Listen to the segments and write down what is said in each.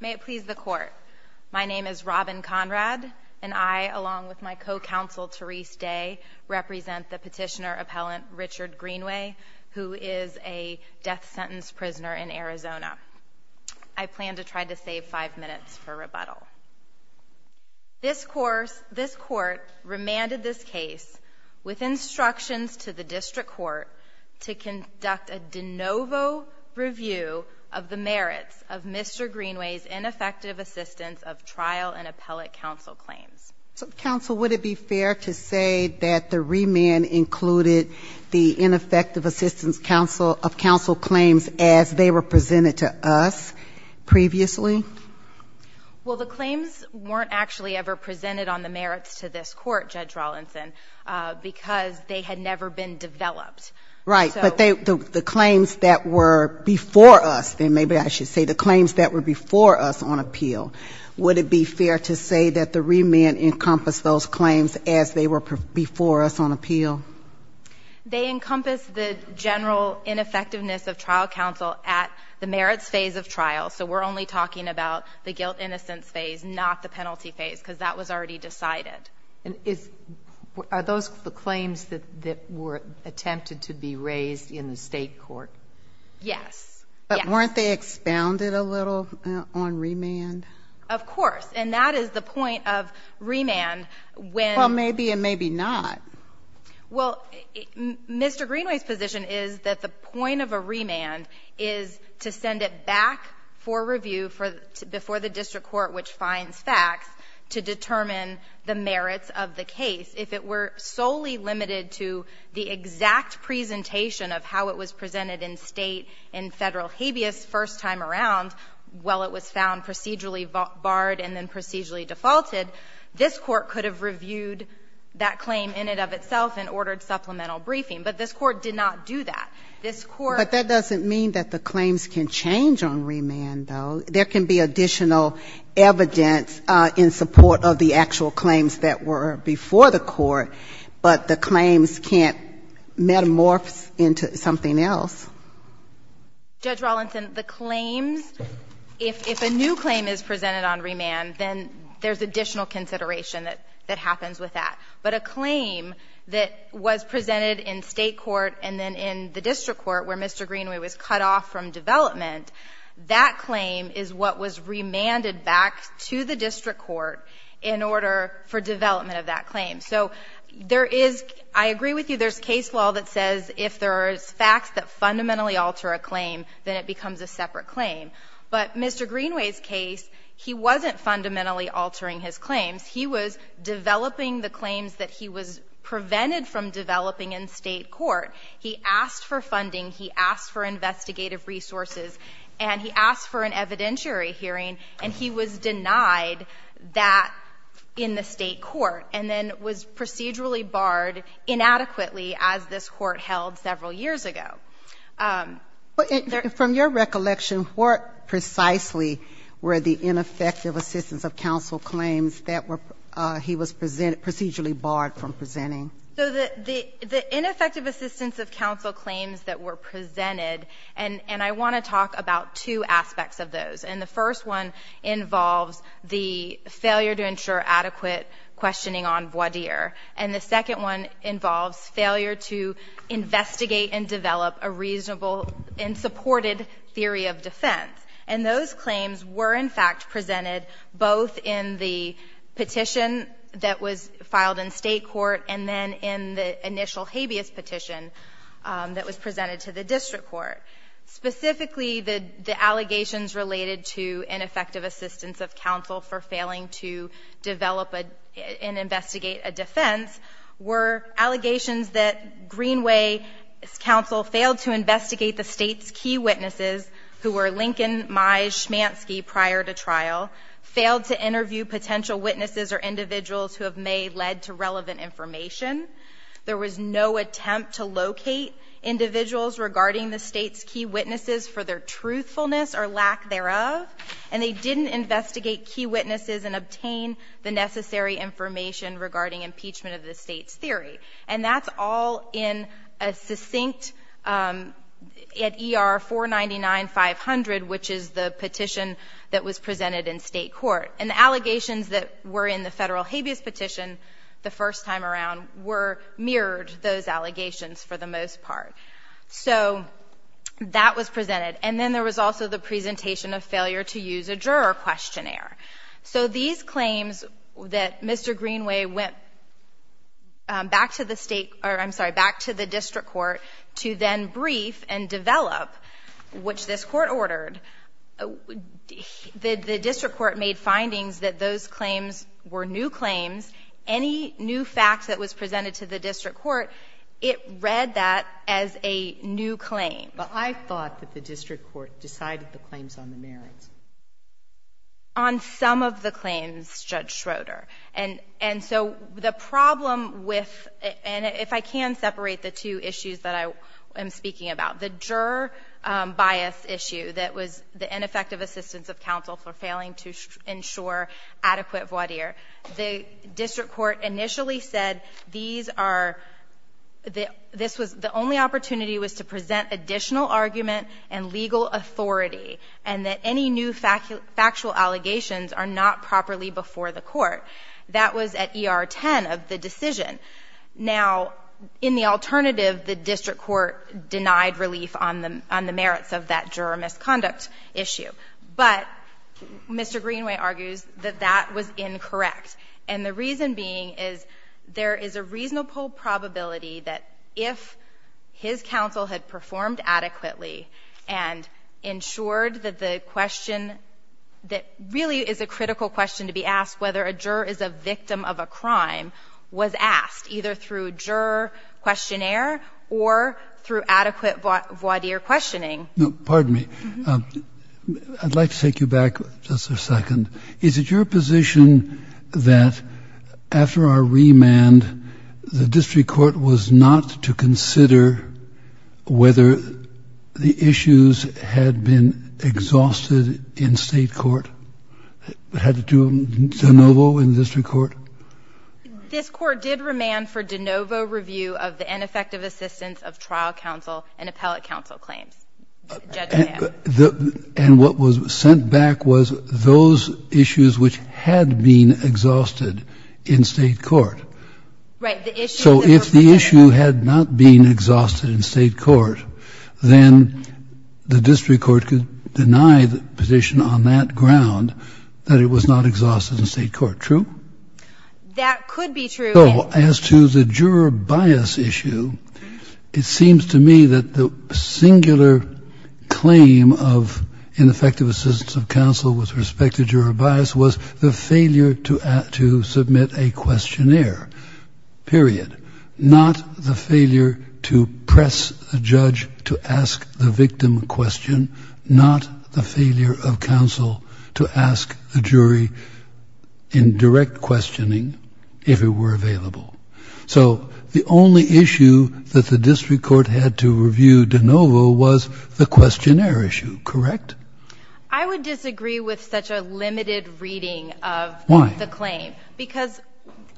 May it please the court, my name is Robin Conrad and I, along with my co-counsel Therese Day, represent the petitioner-appellant Richard Greenway, who is a death sentence prisoner in Arizona. I plan to try to save five minutes for rebuttal. This court remanded this case with instructions to the district court to conduct a de novo review of the merits of Mr. Greenway's ineffective assistance of trial and appellate counsel claims. So, counsel, would it be fair to say that the remand included the ineffective assistance counsel of counsel claims as they were presented to us previously? Well, the claims weren't actually ever presented on the merits to this court, Judge Rawlinson, because they had never been developed. Right. But the claims that were before us, then maybe I should say the claims that were before us on appeal, would it be fair to say that the remand encompassed those claims as they were before us on appeal? They encompassed the general ineffectiveness of trial counsel at the merits phase of trial. So we're only talking about the guilt-innocence phase, not the penalty phase, because that was already decided. And is, are those the claims that were attempted to be raised in the state court? Yes. Yes. But weren't they expounded a little on remand? Of course. And that is the point of remand, when Well, maybe and maybe not. Well, Mr. Greenway's position is that the point of a remand is to send it back for review before the district court, which finds facts, to determine the merits of the case. If it were solely limited to the exact presentation of how it was presented in State and Federal habeas first time around, while it was found procedurally barred and then procedurally defaulted, this Court could have reviewed that claim in and of itself and ordered supplemental briefing. But this Court did not do that. This Court But that doesn't mean that the claims can change on remand, though. There can be additional evidence in support of the actual claims that were before the Court, but the claims can't metamorph into something else. Judge Rawlinson, the claims, if a new claim is presented on remand, then there's additional consideration that happens with that. But a claim that was presented in State court and then in the district court where Mr. Greenway was cut off from development, that claim is what was remanded back to the district court in order for development of that claim. So there is, I agree with you, there's case law that says if there's facts that fundamentally alter a claim, then it becomes a separate claim. But Mr. Greenway's case, he wasn't fundamentally altering his claims. He was developing the claims that he was prevented from developing in State court. He asked for funding. He asked for investigative resources. And he asked for an evidentiary hearing. And he was denied that in the State court and then was procedurally barred inadequately as this Court held several years ago. But there But from your recollection, what precisely were the ineffective assistance of counsel claims that were, he was procedurally barred from presenting? So the ineffective assistance of counsel claims that were presented, and I want to talk about two aspects of those. And the first one involves the failure to ensure adequate questioning on voir dire. And the second one involves failure to investigate and develop a reasonable and supported theory of defense. And those claims were, in fact, presented both in the petition that was filed in and in the initial habeas petition that was presented to the district court. Specifically, the allegations related to ineffective assistance of counsel for failing to develop and investigate a defense were allegations that Greenway's counsel failed to investigate the State's key witnesses, who were Lincoln, Mize, Schmansky prior to trial, failed to interview potential witnesses or individuals who have may led to relevant information. There was no attempt to locate individuals regarding the State's key witnesses for their truthfulness or lack thereof. And they didn't investigate key witnesses and obtain the necessary information regarding impeachment of the State's theory. And that's all in a succinct, at ER-499-500, which is the petition that was presented in State court. And the allegations that were in the federal habeas petition, the first time around, mirrored those allegations for the most part. So that was presented. And then there was also the presentation of failure to use a juror questionnaire. So these claims that Mr. Greenway went back to the State, or I'm sorry, back to the district court to then brief and develop, which this court made findings that those claims were new claims. Any new facts that was presented to the district court, it read that as a new claim. But I thought that the district court decided the claims on the merits. On some of the claims, Judge Schroeder. And so the problem with, and if I can separate the two issues that I am speaking about, the juror bias issue that was the ineffective assistance of counsel for failing to ensure adequate voir dire. The district court initially said these are, this was the only opportunity was to present additional argument and legal authority. And that any new factual allegations are not properly before the court. That was at ER-10 of the decision. Now, in the alternative, the district court denied relief on the merits of that juror misconduct issue. But Mr. Greenway argues that that was incorrect. And the reason being is there is a reasonable probability that if his counsel had performed adequately and ensured that the question, that really is a critical question to be asked, whether a juror is a victim of a crime, was asked either through juror questionnaire or through adequate voir dire questioning. No, pardon me, I'd like to take you back just a second. Is it your position that after our remand, the district court was not to consider whether the issues had been exhausted in state court? Had to do them de novo in district court? This court did remand for de novo review of the ineffective assistance of trial counsel and appellate counsel claims, judging that. And what was sent back was those issues which had been exhausted in state court. Right, the issue that- So if the issue had not been exhausted in state court, then the district court could deny the position on that ground, that it was not exhausted in state court, true? That could be true. So as to the juror bias issue, it seems to me that the singular claim of ineffective assistance of counsel with respect to juror bias was the failure to submit a questionnaire, period. Not the failure to press the judge to ask the victim a question, not the failure of counsel to ask the jury in direct questioning if it were available. So the only issue that the district court had to review de novo was the questionnaire issue, correct? I would disagree with such a limited reading of the claim. Why? Because,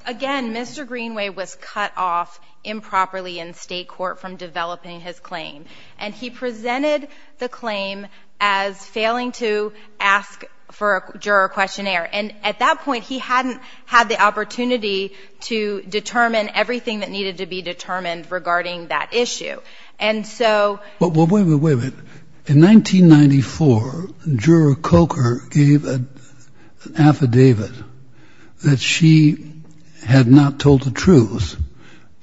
again, Mr. Greenway was cut off improperly in state court from developing his claim, and he presented the claim as failing to ask for a juror questionnaire. And at that point, he hadn't had the opportunity to determine everything that needed to be determined regarding that issue. And so- Well, wait a minute. In 1994, Juror Coker gave an affidavit that she had not told the truth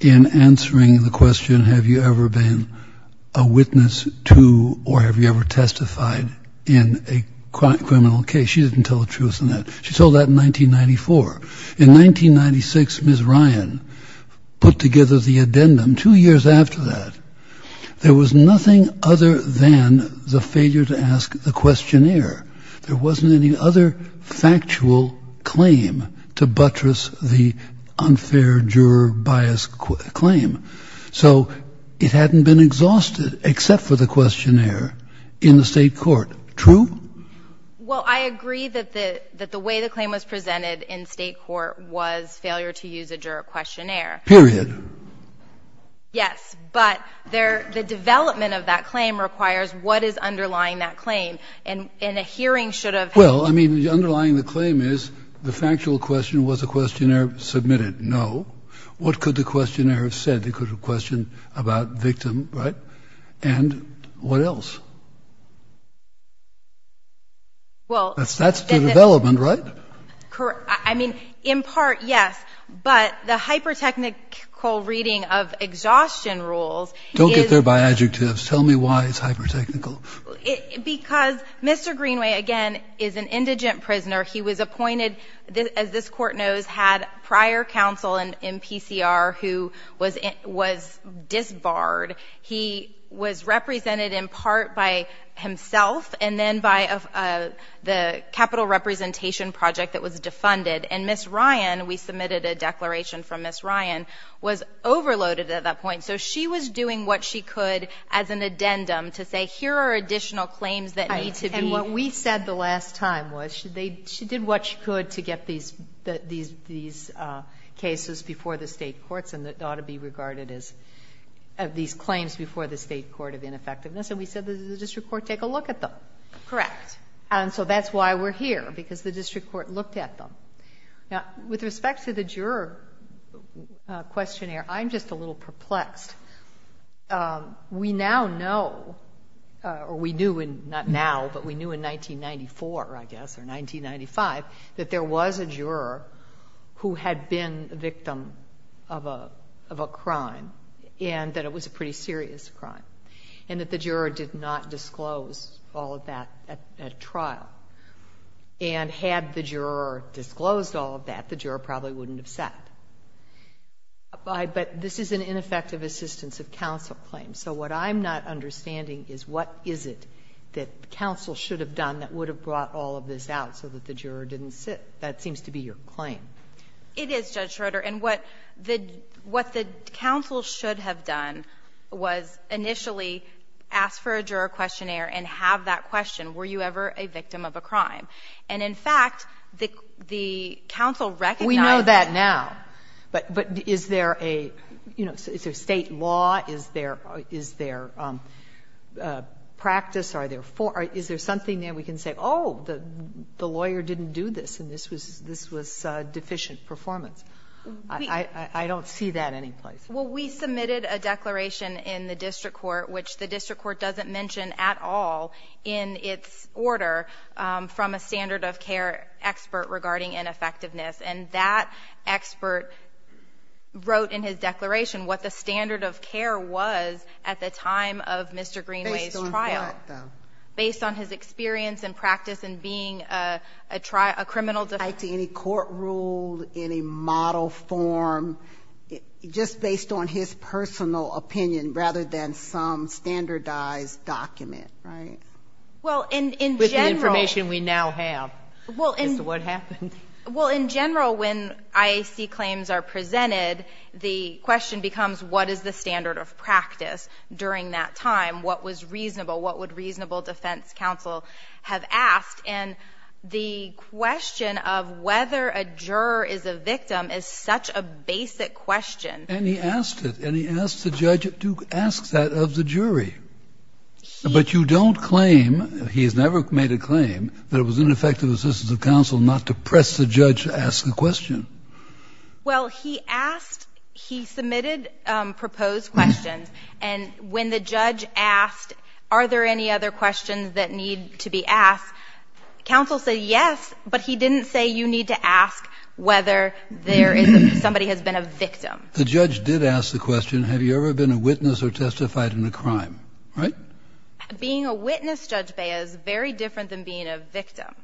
in answering the question, have you ever been a witness to, or have you ever testified in a criminal case? She didn't tell the truth in that. She told that in 1994. In 1996, Ms. Ryan put together the addendum. Two years after that, there was nothing other than the failure to ask the questionnaire. There wasn't any other factual claim to buttress the unfair juror bias claim. So it hadn't been exhausted except for the questionnaire in the state court, true? Well, I agree that the way the claim was presented in state court was failure to use a juror questionnaire. Period. Yes, but the development of that claim requires what is underlying that claim. And a hearing should have- Well, I mean, underlying the claim is the factual question, was the questionnaire submitted? No. What could the questionnaire have said? It could have questioned about victim, right? And what else? Well- That's the development, right? I mean, in part, yes. But the hypertechnical reading of exhaustion rules is- Don't get there by adjectives. Tell me why it's hypertechnical. Because Mr. Greenway, again, is an indigent prisoner. He was appointed, as this court knows, had prior counsel in PCR who was disbarred. He was represented in part by himself and then by the capital representation project that was defunded. And Ms. Ryan, we submitted a declaration from Ms. Ryan, was overloaded at that point. So she was doing what she could as an addendum to say, here are additional claims that need to be- And what we said the last time was she did what she could to get these cases before the state courts and that ought to be regarded as these claims before the state court of ineffectiveness. Correct. And so that's why we're here, because the district court looked at them. Now, with respect to the juror questionnaire, I'm just a little perplexed. We now know, or we knew, not now, but we knew in 1994, I guess, or 1995, that there was a juror who had been a victim of a crime and that it was a pretty serious crime and that the juror did not disclose all of that at trial. And had the juror disclosed all of that, the juror probably wouldn't have sat. But this is an ineffective assistance of counsel claim. So what I'm not understanding is, what is it that counsel should have done that would have brought all of this out so that the juror didn't sit? That seems to be your claim. It is, Judge Schroeder. And what the counsel should have done was initially ask for a juror questionnaire and have that question, were you ever a victim of a crime? And in fact, the counsel recognized that. We know that now. But is there a, you know, is there state law? Is there practice? Are there forms? Is there something there we can say, oh, the lawyer didn't do this and this was deficient performance? I don't see that any place. Well, we submitted a declaration in the district court, which the district court doesn't mention at all in its order from a standard of care expert regarding ineffectiveness. And that expert wrote in his declaration what the standard of care was at the time of Mr. Greenway's trial. Based on what, though? Based on his experience and practice in being a criminal defense. He denied to any court rule, any model form, just based on his personal opinion rather than some standardized document, right? With the information we now have as to what happened. Well, in general, when IAC claims are presented, the question becomes what is the standard of practice during that time? What was reasonable? What would reasonable defense counsel have asked? And the question of whether a juror is a victim is such a basic question. And he asked it. And he asked the judge to ask that of the jury. But you don't claim, he has never made a claim, that it was ineffective assistance of counsel not to press the judge to ask the question. Well, he asked, he submitted proposed questions. And when the judge asked, are there any other questions that need to be asked, counsel said yes, but he didn't say you need to ask whether somebody has been a victim. The judge did ask the question, have you ever been a witness or testified in a crime? Right? Being a witness, Judge Bea, is very different than being a victim.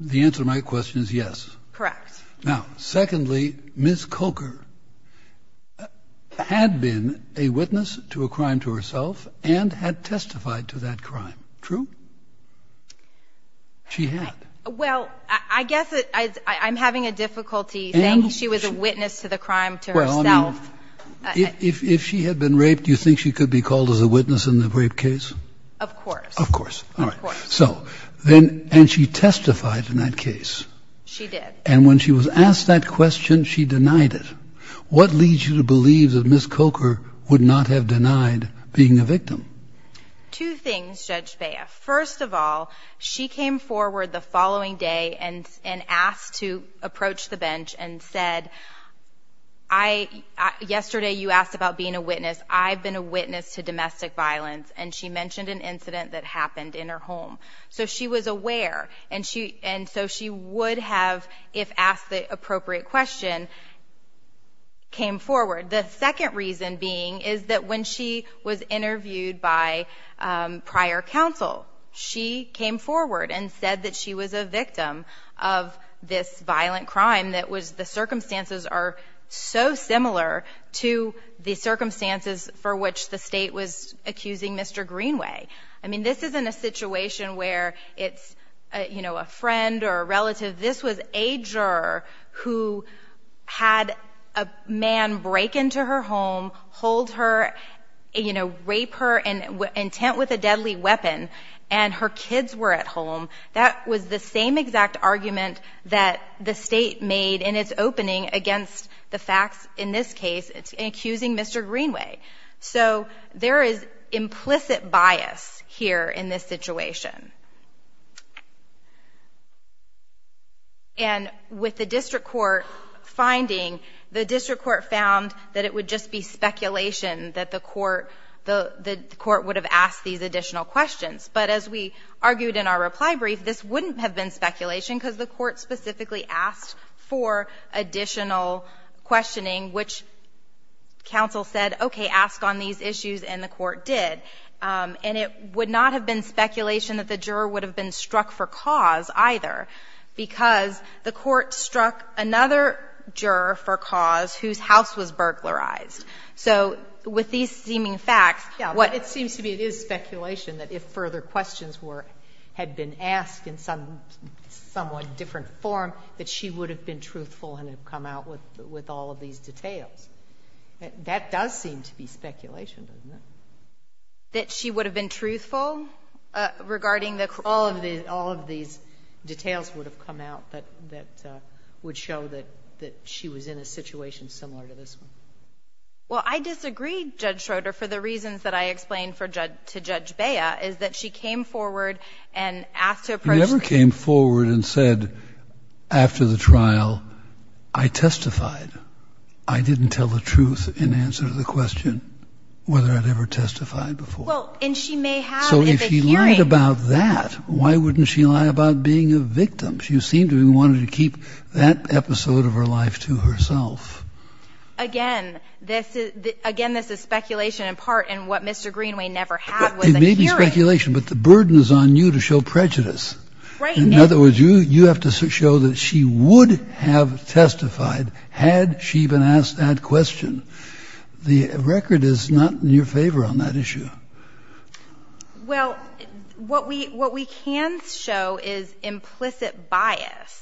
The answer to my question is yes. Correct. Now, secondly, Ms. Coker had been a witness to a crime to herself and had testified to that crime. True? She had. Well, I guess I'm having a difficulty saying she was a witness to the crime to herself. If she had been raped, do you think she could be called as a witness in the rape case? Of course. Of course. All right. So, and she testified in that case. She did. And when she was asked that question, she denied it. What leads you to believe that Ms. Coker would not have denied being a victim? Two things, Judge Bea. First of all, she came forward the following day and asked to approach the bench and said, I, yesterday you asked about being a witness, I've been a witness to domestic violence. And she mentioned an incident that happened in her home. So she was aware. And so she would have, if asked the appropriate question, came forward. The second reason being is that when she was interviewed by prior counsel, she came forward and said that she was a victim of this violent crime that was, the circumstances are so similar to the circumstances for which the state was accusing Mr. Greenway. I mean, this isn't a situation where it's, you know, a friend or a relative. This was a juror who had a man break into her home, hold her, you know, rape her, intent with a deadly weapon, and her kids were at home. That was the same exact argument that the state made in its opening against the facts in this case, accusing Mr. Greenway. So there is implicit bias here in this situation. And with the district court finding, the district court found that it would just be speculation that the court would have asked these additional questions. But as we argued in our reply brief, this wouldn't have been speculation because the court specifically asked for additional questioning, which counsel said, okay, ask on these issues, and the court did. And it would not have been speculation that the juror would have been struck for cause either, because the court struck another juror for cause whose house was burglarized. So with these seeming facts, what the court said would have been speculation that if further questions were, had been asked in some somewhat different form, that she would have been truthful and have come out with all of these details. That does seem to be speculation, doesn't it? That she would have been truthful regarding the court? All of these details would have come out that would show that she was in a situation similar to this one. Well, I disagreed, Judge Schroeder, for the reasons that I explained to Judge Bea, is that she came forward and asked to approach the court. You never came forward and said, after the trial, I testified. I didn't tell the truth in answer to the question, whether I'd ever testified before. Well, and she may have at the hearing. So if she lied about that, why wouldn't she lie about being a victim? She seemed to have wanted to keep that episode of her life to herself. Again, this is speculation, in part, and what Mr. Greenway never had was a hearing. It may be speculation, but the burden is on you to show prejudice. In other words, you have to show that she would have testified had she been asked that question. The record is not in your favor on that issue. Well, what we can show is implicit bias.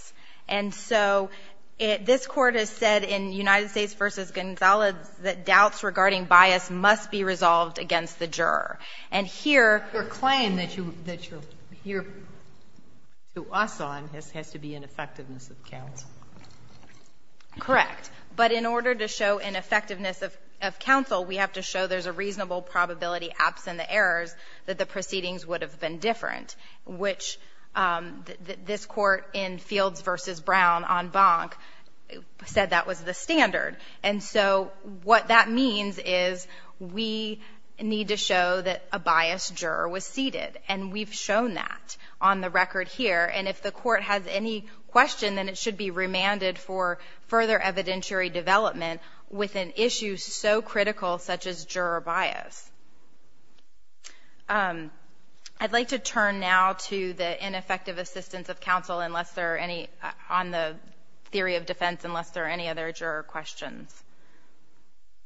And so this Court has said in United States v. Gonzales that doubts regarding bias must be resolved against the juror. And here Your claim that you're here to us on has to be in effectiveness of counsel. Correct. But in order to show an effectiveness of counsel, we have to show there's a reasonable probability, absent the errors, that the proceedings would have been different, which this Court in Fields v. Brown on Bonk said that was the standard. And so what that means is we need to show that a biased juror was seated. And we've shown that on the record here. And if the Court has any question, then it should be remanded for further evidentiary development with an issue so critical, such as juror bias. I'd like to turn now to the ineffective assistance of counsel unless there are any, on the theory of defense, unless there are any other juror questions.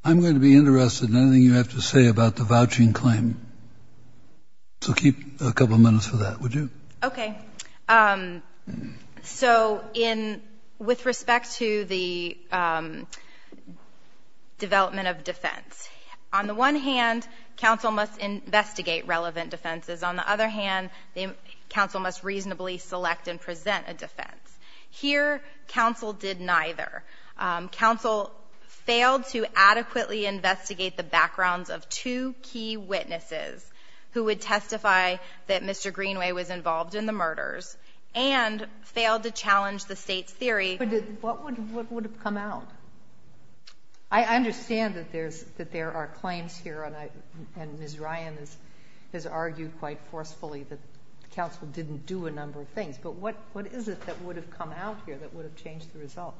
I'm going to be interested in anything you have to say about the vouching claim. So keep a couple of minutes for that, would you? Okay. So in, with respect to the development of defense, on the one hand, counsel must investigate relevant defenses. On the other hand, counsel must reasonably select and present a defense. Here, counsel did neither. Counsel failed to adequately investigate the backgrounds of two key witnesses who would testify that Mr. Greenway was involved in the murders, and failed to challenge the state's theory. What would have come out? I understand that there's, that there are claims here, and I, and Ms. Ryan has, has argued quite forcefully that counsel didn't do a number of things. But what, what is it that would have come out here that would have changed the result?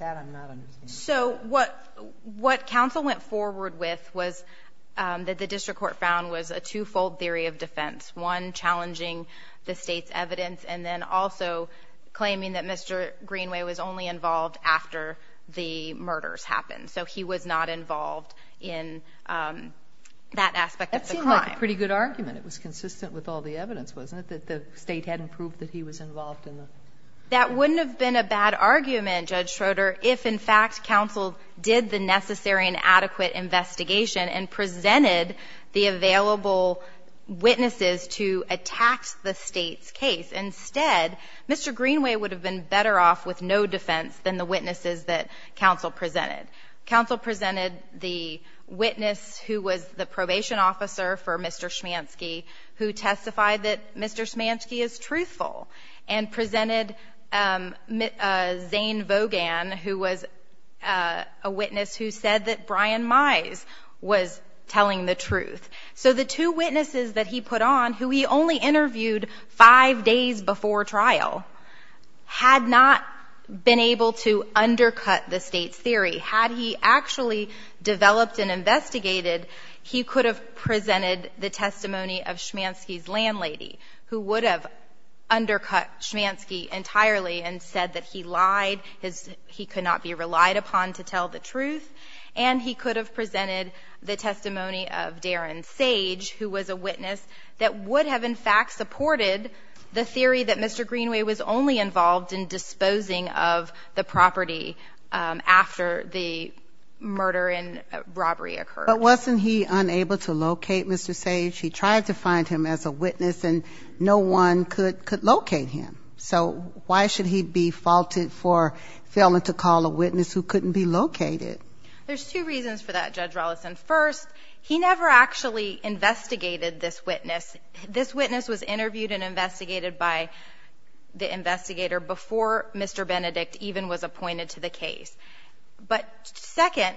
That I'm not understanding. So what, what counsel went forward with was that the District Court found was a two-fold theory of defense. One challenging the state's evidence, and then also claiming that Mr. Greenway was only involved after the murders happened. So he was not involved in that aspect of the crime. That seemed like a pretty good argument. It was consistent with all the evidence, wasn't it, that the state hadn't proved that he was involved in the murders? That wouldn't have been a bad argument, Judge Schroeder, if, in fact, counsel did the necessary and adequate investigation and presented the available witnesses to attack the state's case. Instead, Mr. Greenway would have been better off with no defense than the witnesses that counsel presented. Counsel presented the witness who was the probation officer for Mr. Schmansky, who testified that Mr. Schmansky is truthful, and presented Zane Vogan, who was a witness who said that Brian Mize was telling the truth. So the two witnesses that he put on, who he only interviewed five days before trial, had not been able to undercut the state's theory. Had he actually developed and investigated, he could have presented the testimony of Schmansky's landlady, who would have undercut Schmansky entirely and said that he lied, he could not be relied upon to tell the truth. And he could have presented the testimony of Darren Sage, who was a witness that would have, in fact, supported the theory that Mr. Greenway was only involved in disposing of the property after the murder and robbery occurred. But wasn't he unable to locate Mr. Sage? He tried to find him as a witness, and no one could locate him. So why should he be faulted for failing to call a witness who couldn't be located? There's two reasons for that, Judge Rollison. First, he never actually investigated this witness. This witness was interviewed and investigated by the investigator before Mr. Benedict even was appointed to the case. But second,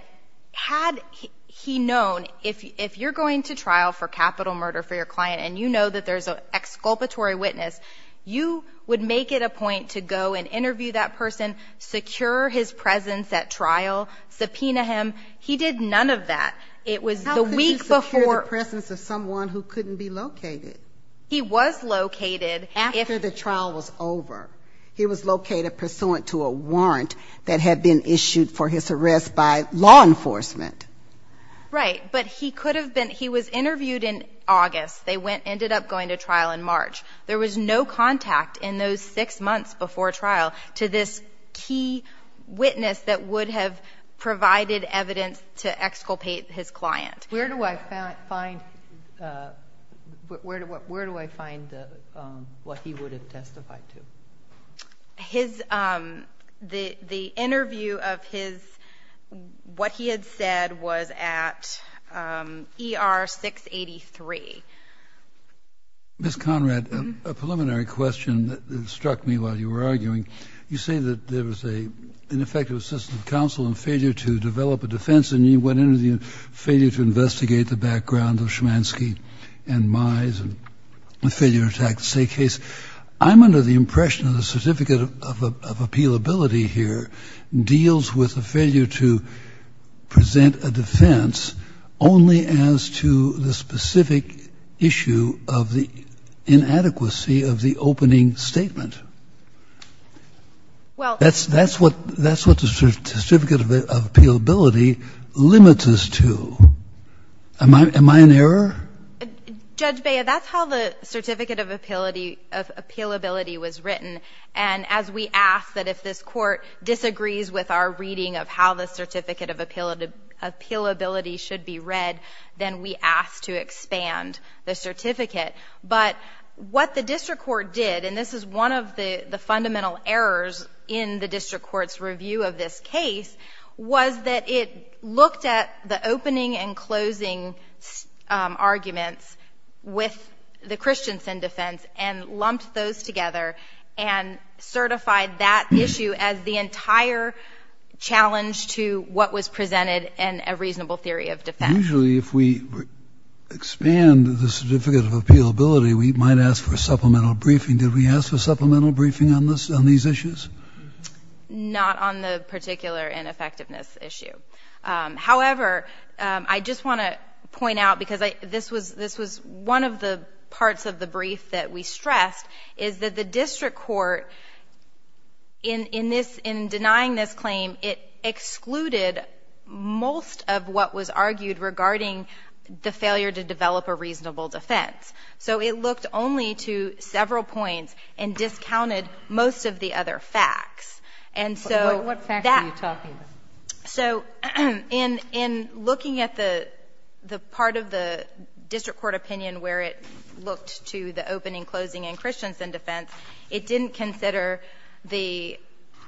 had he known, if you're going to trial for capital murder for your client, and you know that there's an exculpatory witness, you would make it a point to go and interview that person, secure his presence at trial, subpoena him. He did none of that. It was the week before- How could you secure the presence of someone who couldn't be located? He was located if- After the trial was over. He was located pursuant to a warrant that had been issued for his arrest by law enforcement. Right, but he could have been, he was interviewed in August. They went, ended up going to trial in March. There was no contact in those six months before trial to this key witness that would have provided evidence to exculpate his client. Where do I find, where do I find what he would have testified to? His, the interview of his, what he had said was at ER 683. Ms. Conrad, a preliminary question that struck me while you were arguing. You say that there was an ineffective assistant counsel and failure to develop a defense, and you went into the failure to investigate the background of Schmansky and Mize, and a failure to attack the state case. I'm under the impression that the certificate of appealability here deals with a failure to present a defense only as to the specific issue of the inadequacy of the opening statement. Well- That's, that's what, that's what the certificate of appealability limits us to. Am I, am I in error? Judge Baya, that's how the certificate of appealability was written. And as we ask that if this court disagrees with our reading of how the certificate of appealability should be read, then we ask to expand the certificate. But what the district court did, and this is one of the fundamental errors in the district court's review of this case, was that it looked at the opening and closing arguments with the Christianson defense and lumped those together. And certified that issue as the entire challenge to what was presented and a reasonable theory of defense. Usually if we expand the certificate of appealability, we might ask for a supplemental briefing. Did we ask for a supplemental briefing on this, on these issues? Not on the particular ineffectiveness issue. However, I just want to point out, because I, this was, this was one of the parts of the brief that we stressed, is that the district court, in, in this, in denying this claim, it excluded most of what was argued regarding the failure to develop a reasonable defense. So it looked only to several points and discounted most of the other facts. And so that- What facts are you talking about? So, in, in looking at the, the part of the district court opinion where it looked to the opening, closing, and Christianson defense, it didn't consider the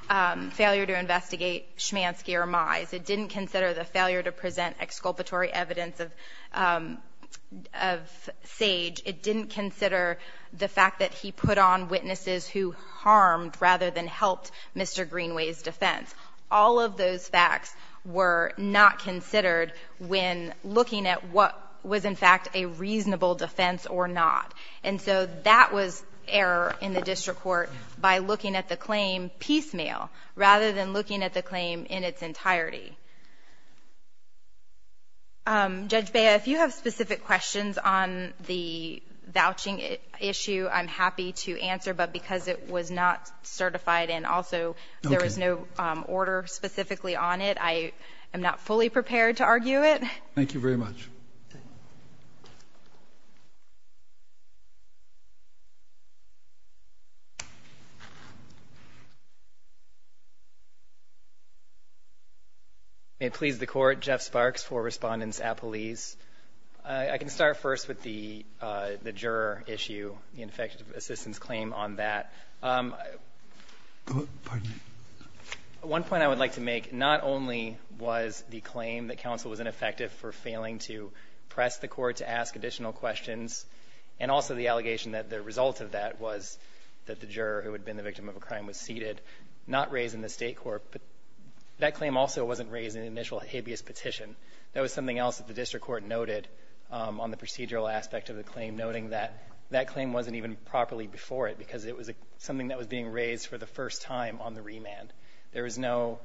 failure to investigate Shmansky or Mize. It didn't consider the failure to present exculpatory evidence of, of Sage. It didn't consider the fact that he put on witnesses who harmed rather than helped Mr. Greenway's defense. All of those facts were not considered when looking at what was in fact a reasonable defense or not. And so that was error in the district court by looking at the claim piecemeal, rather than looking at the claim in its entirety. Judge Bea, if you have specific questions on the vouching issue, I'm happy to answer, but because it was not certified and also there was no order specifically on it, I am not fully prepared to argue it. Thank you very much. May it please the court, Jeff Sparks for Respondents at Police. I, I can start first with the the juror issue, the ineffective assistance claim on that pardon me. One point I would like to make, not only was the claim that counsel was ineffective for failing to press the court to ask additional questions, and also the allegation that the result of that was that the juror who had been the victim of a crime was seated, not raised in the state court, but that claim also wasn't raised in the initial habeas petition. That was something else that the district court noted on the procedural aspect of the claim, noting that that claim wasn't even properly before it because it was something that was being raised for the first time on the remand. There is no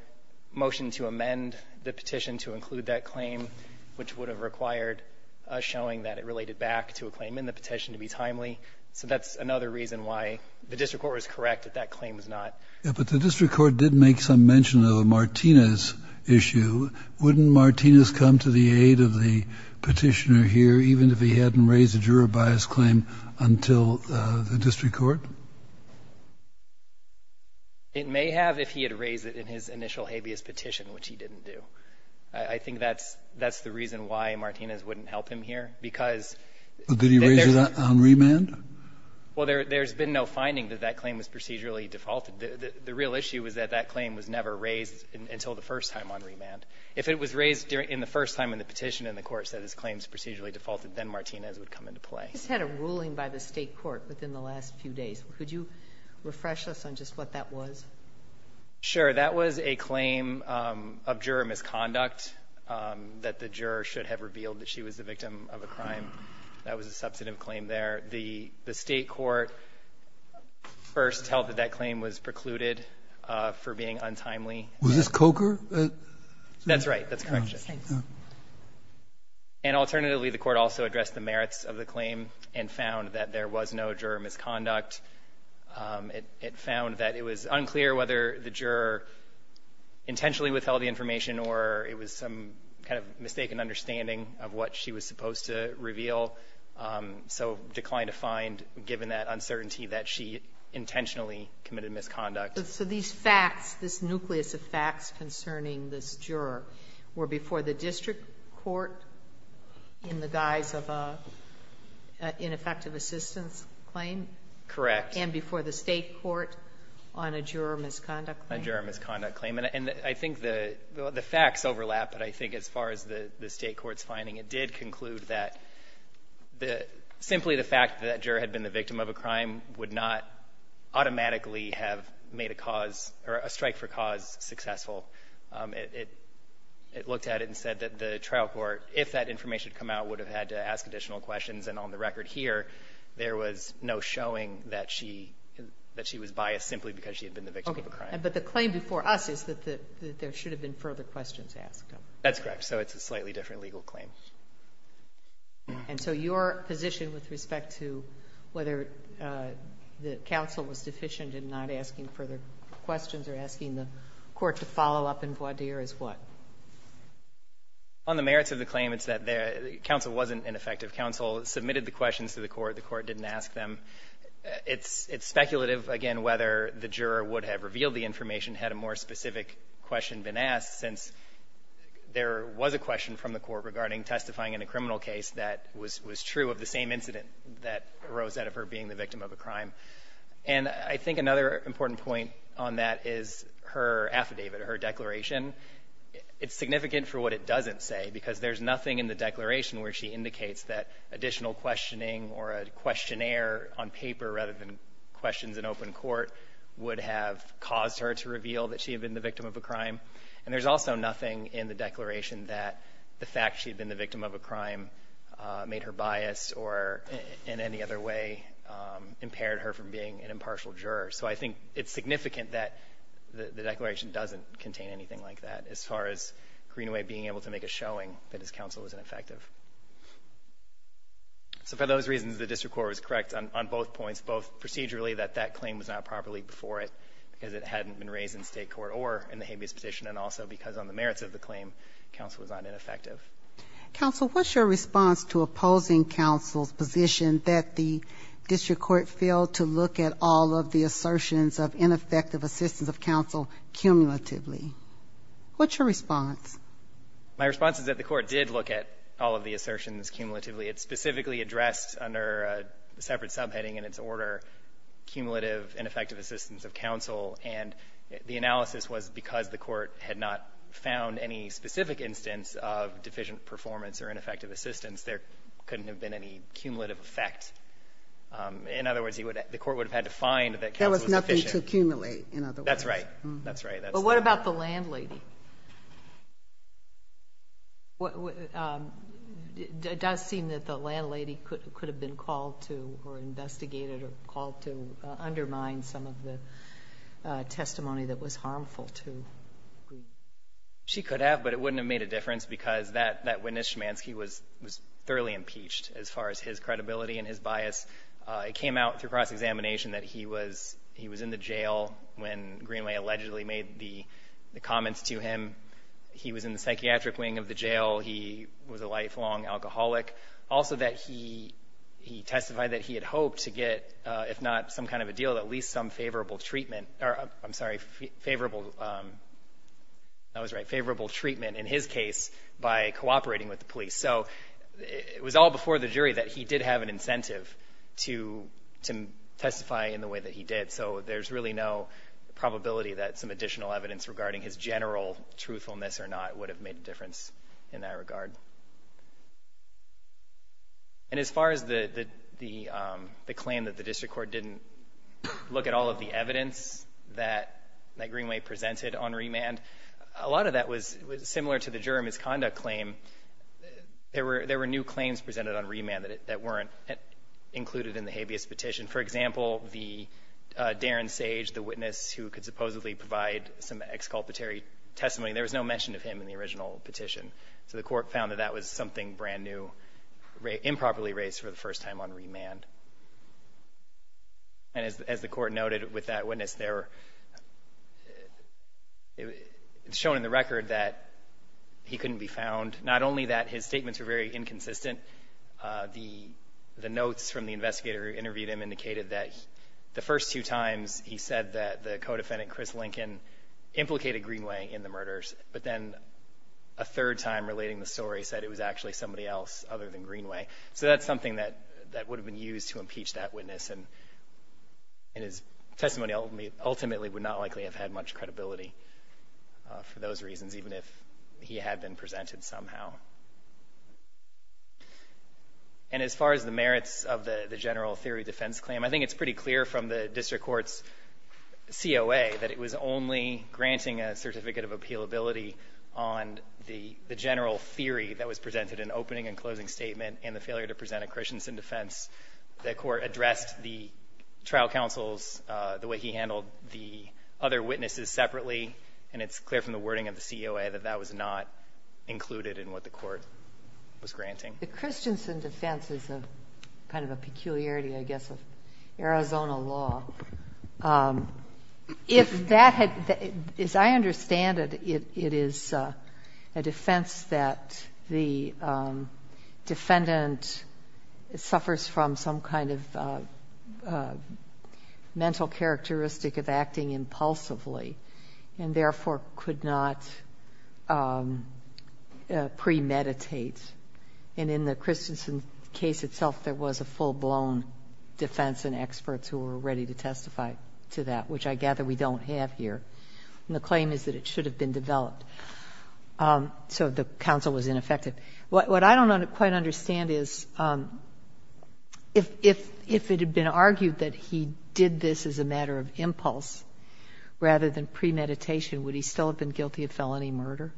motion to amend the petition to include that claim, which would have required a showing that it related back to a claim in the petition to be timely. So that's another reason why the district court was correct that that claim was not. Yeah, but the district court did make some mention of a Martinez issue. Wouldn't Martinez come to the aid of the petitioner here, even if he hadn't raised a juror bias claim until the district court? It may have if he had raised it in his initial habeas petition, which he didn't do. I think that's the reason why Martinez wouldn't help him here, because- Did he raise it on remand? Well, there's been no finding that that claim was procedurally defaulted. The real issue is that that claim was never raised until the first time on remand. If it was raised in the first time in the petition and the court said his claim is procedurally defaulted, then Martinez would come into play. We just had a ruling by the state court within the last few days. Could you refresh us on just what that was? Sure. That was a claim of juror misconduct that the juror should have revealed that she was the victim of a crime. That was a substantive claim there. The state court first held that that claim was precluded for being untimely. Was this Coker? That's right. That's correct. And alternatively, the court also addressed the merits of the claim and found that there was no juror misconduct. It found that it was unclear whether the juror intentionally withheld the information or it was some kind of mistaken understanding of what she was supposed to reveal, so declined to find, given that uncertainty, that she intentionally committed misconduct. So these facts, this nucleus of facts concerning this juror were before the district court in the guise of an ineffective assistance claim? Correct. And before the state court on a juror misconduct claim? A juror misconduct claim. And I think the facts overlap, but I think as far as the state court's finding, it did conclude that simply the fact that that juror had been the victim of a crime would not automatically have made a cause or a strike for cause successful. It looked at it and said that the trial court, if that information had come out, would have had to ask additional questions. And on the record here, there was no showing that she was biased simply because she had been the victim of a crime. Okay. But the claim before us is that there should have been further questions asked. That's correct. So it's a slightly different legal claim. And so your position with respect to whether the counsel was deficient in not asking further questions or asking the court to follow up in voir dire is what? On the merits of the claim, it's that the counsel wasn't an effective counsel, submitted the questions to the court, the court didn't ask them. It's speculative, again, whether the juror would have revealed the information had a more specific question been asked since there was a question from the court regarding testifying in a criminal case that was true of the same incident that arose out of her being the victim of a crime. And I think another important point on that is her affidavit or her declaration. It's significant for what it doesn't say because there's nothing in the declaration where she indicates that additional questioning or a questionnaire on paper rather than questions in open court would have caused her to reveal that she had been the victim of a crime. And there's also nothing in the declaration that the fact she had been the victim of a crime made her biased or in any other way impaired her from being an impartial juror. So I think it's significant that the declaration doesn't contain anything like that as far as Greenaway being able to make a showing that his counsel was ineffective. So for those reasons, the district court was correct on both points, both procedurally that that claim was not properly before it because it hadn't been raised in state court or in the habeas petition and also because on the merits of the claim counsel was not ineffective. Counsel, what's your response to opposing counsel's position that the district court failed to look at all of the assertions of ineffective assistance of counsel cumulatively? What's your response? My response is that the court did look at all of the assertions cumulatively. It specifically addressed under a separate subheading in its order cumulative ineffective assistance of counsel, and the analysis was because the court had not found any specific instance of deficient performance or ineffective assistance, there couldn't have been any cumulative effect. In other words, the court would have had to find that counsel was deficient. There was nothing to accumulate, in other words. That's right. That's right. But what about the landlady? It does seem that the landlady could have been called to or investigated or called to undermine some of the testimony that was harmful to Greenway. She could have, but it wouldn't have made a difference because that witness, Schmanski, was thoroughly impeached as far as his credibility and his bias. It came out through cross-examination that he was in the jail when Greenway allegedly made the comments to him. He was in the psychiatric wing of the jail. He was a lifelong alcoholic. Also that he testified that he had hoped to get, if not some kind of a deal, at least some favorable treatment. I'm sorry, favorable treatment in his case by cooperating with the police. So it was all before the jury that he did have an incentive to testify in the way that he did. So there's really no probability that some additional evidence regarding his general truthfulness or not would have made a difference in that regard. And as far as the claim that the district court didn't look at all of the evidence that Greenway presented on remand, a lot of that was similar to the jury misconduct claim. There were new claims presented on remand that weren't included in the habeas petition. For example, the Darren Sage, the witness who could supposedly provide some exculpatory testimony, there was no mention of him in the original petition. So the court found that that was something brand new, improperly raised for the first time on remand. And as the court noted with that witness, it's shown in the record that he couldn't be found. Not only that his statements were very inconsistent. The notes from the investigator who interviewed him indicated that the first two times he said that the co-defendant, Chris Lincoln, implicated Greenway in the murders, but then a third time relating the story said it was actually somebody else other than Greenway. So that's something that would have been used to impeach that witness, and his testimony ultimately would not likely have had much credibility for those reasons, even if he had been presented somehow. And as far as the merits of the general theory defense claim, I think it's pretty clear from the district court's COA that it was only granting a certificate of appealability on the general theory that was presented in opening and closing statement and the failure to present a Christensen defense. The court addressed the trial counsels, the way he handled the other witnesses separately, and it's clear from the wording of the COA that that was not included in what the court was granting. The Christensen defense is kind of a peculiarity, I guess, of Arizona law. As I understand it, it is a defense that the defendant suffers from some kind of mental characteristic of acting impulsively and therefore could not premeditate. And in the Christensen case itself, there was a full-blown defense and experts who were ready to testify to that, which I gather we don't have here. And the claim is that it should have been developed. So the counsel was ineffective. What I don't quite understand is if it had been argued that he did this as a matter of impulse rather than premeditation, would he still have been guilty of felony murder?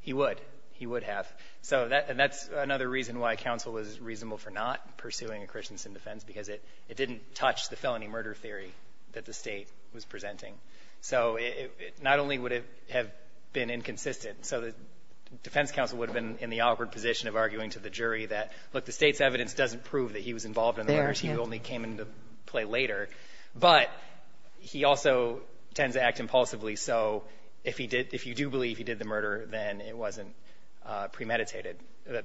He would. He would have. And that's another reason why counsel was reasonable for not pursuing a Christensen defense because it didn't touch the felony murder theory that the state was presenting. So not only would it have been inconsistent, so the defense counsel would have been in the awkward position of arguing to the jury that, look, the state's evidence doesn't prove that he was involved in the murders. He only came into play later. But he also tends to act impulsively, so if you do believe he did the murder, then it wasn't premeditated.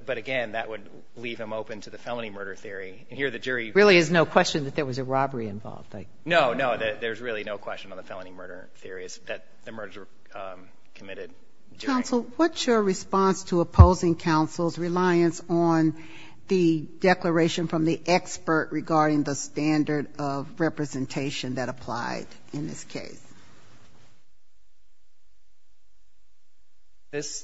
But, again, that would leave him open to the felony murder theory. And here the jury— There really is no question that there was a robbery involved. No, no, there's really no question on the felony murder theory that the murders were committed during. Counsel, what's your response to opposing counsel's reliance on the declaration from the expert regarding the standard of representation that applied in this case? That's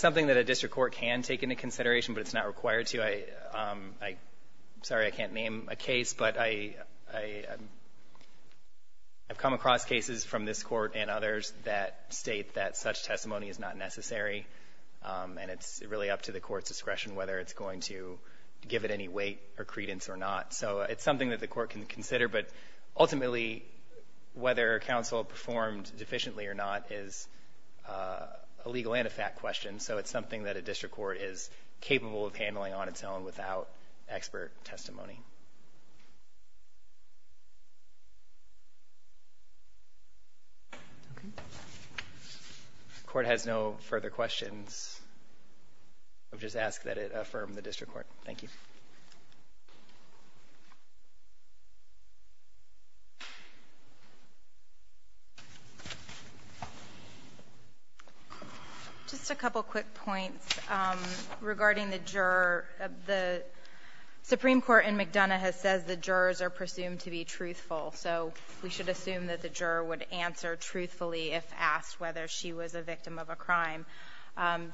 something that a district court can take into consideration, but it's not required to. Sorry, I can't name a case, but I've come across cases from this court and others that state that such testimony is not necessary, and it's really up to the court's discretion whether it's going to give it any weight or credence or not. So it's something that the court can consider, but ultimately whether counsel performed deficiently or not is a legal and a fact question, so it's something that a district court is capable of handling on its own without expert testimony. If the court has no further questions, I'll just ask that it affirm the district court. Thank you. Thank you. Just a couple quick points regarding the juror. The Supreme Court in McDonough has said the jurors are presumed to be truthful, so we should assume that the juror would answer truthfully if asked whether she was a victim of a crime.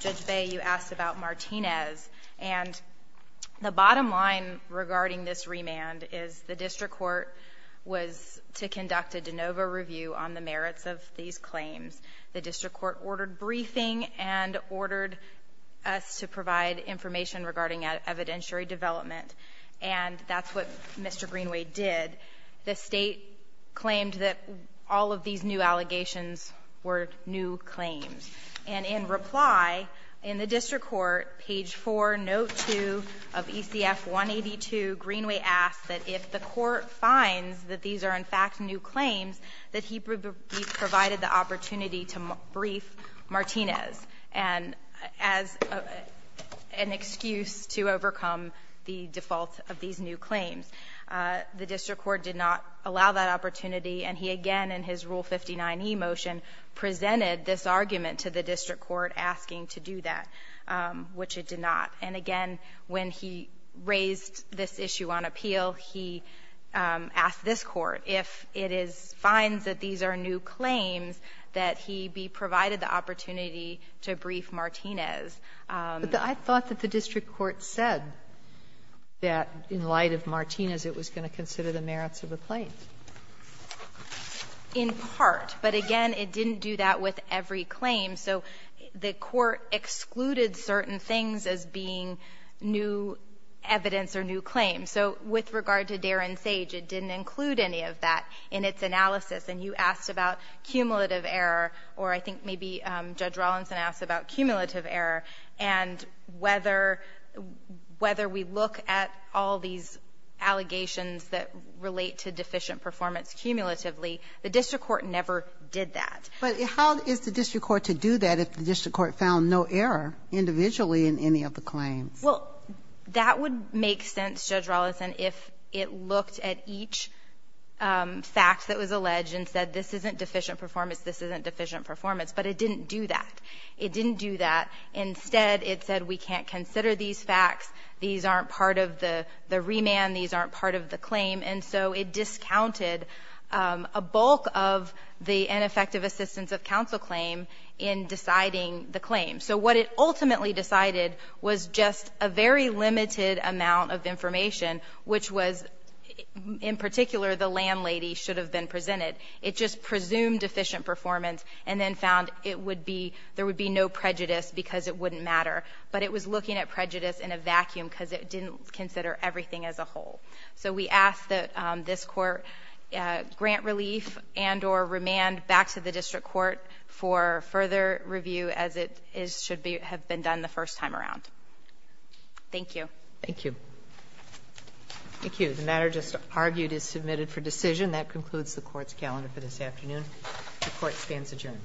Judge Bay, you asked about Martinez, and the bottom line regarding this remand is the district court was to conduct a de novo review on the merits of these claims. The district court ordered briefing and ordered us to provide information regarding evidentiary development, and that's what Mr. Greenway did. The state claimed that all of these new allegations were new claims, and in reply in the district court, page 4, note 2 of ECF 182, Greenway asked that if the court finds that these are in fact new claims, that he be provided the opportunity to brief Martinez as an excuse to overcome the default of these new claims. The district court did not allow that opportunity, and he again in his Rule 59e motion presented this argument to the district court asking to do that, which it did not. And again, when he raised this issue on appeal, he asked this court, if it is finds that these are new claims, that he be provided the opportunity to brief Martinez. But I thought that the district court said that in light of Martinez, it was going to consider the merits of the claims. In part, but again, it didn't do that with every claim. So the court excluded certain things as being new evidence or new claims. So with regard to Darin Sage, it didn't include any of that in its analysis. And you asked about cumulative error, or I think maybe Judge Rawlinson asked about cumulative error, and whether we look at all these allegations that relate to deficient performance cumulatively, the district court never did that. But how is the district court to do that if the district court found no error individually in any of the claims? Well, that would make sense, Judge Rawlinson, if it looked at each fact that was alleged and said this isn't deficient performance, this isn't deficient performance. But it didn't do that. It didn't do that. Instead, it said we can't consider these facts. These aren't part of the remand. These aren't part of the claim. And so it discounted a bulk of the ineffective assistance of counsel claim in deciding the claim. So what it ultimately decided was just a very limited amount of information, which was in particular the landlady should have been presented. It just presumed deficient performance and then found there would be no prejudice because it wouldn't matter. But it was looking at prejudice in a vacuum because it didn't consider everything as a whole. So we ask that this court grant relief and or remand back to the district court for further review as it should have been done the first time around. Thank you. Thank you. Thank you. The matter just argued is submitted for decision. That concludes the court's calendar for this afternoon. The court stands adjourned.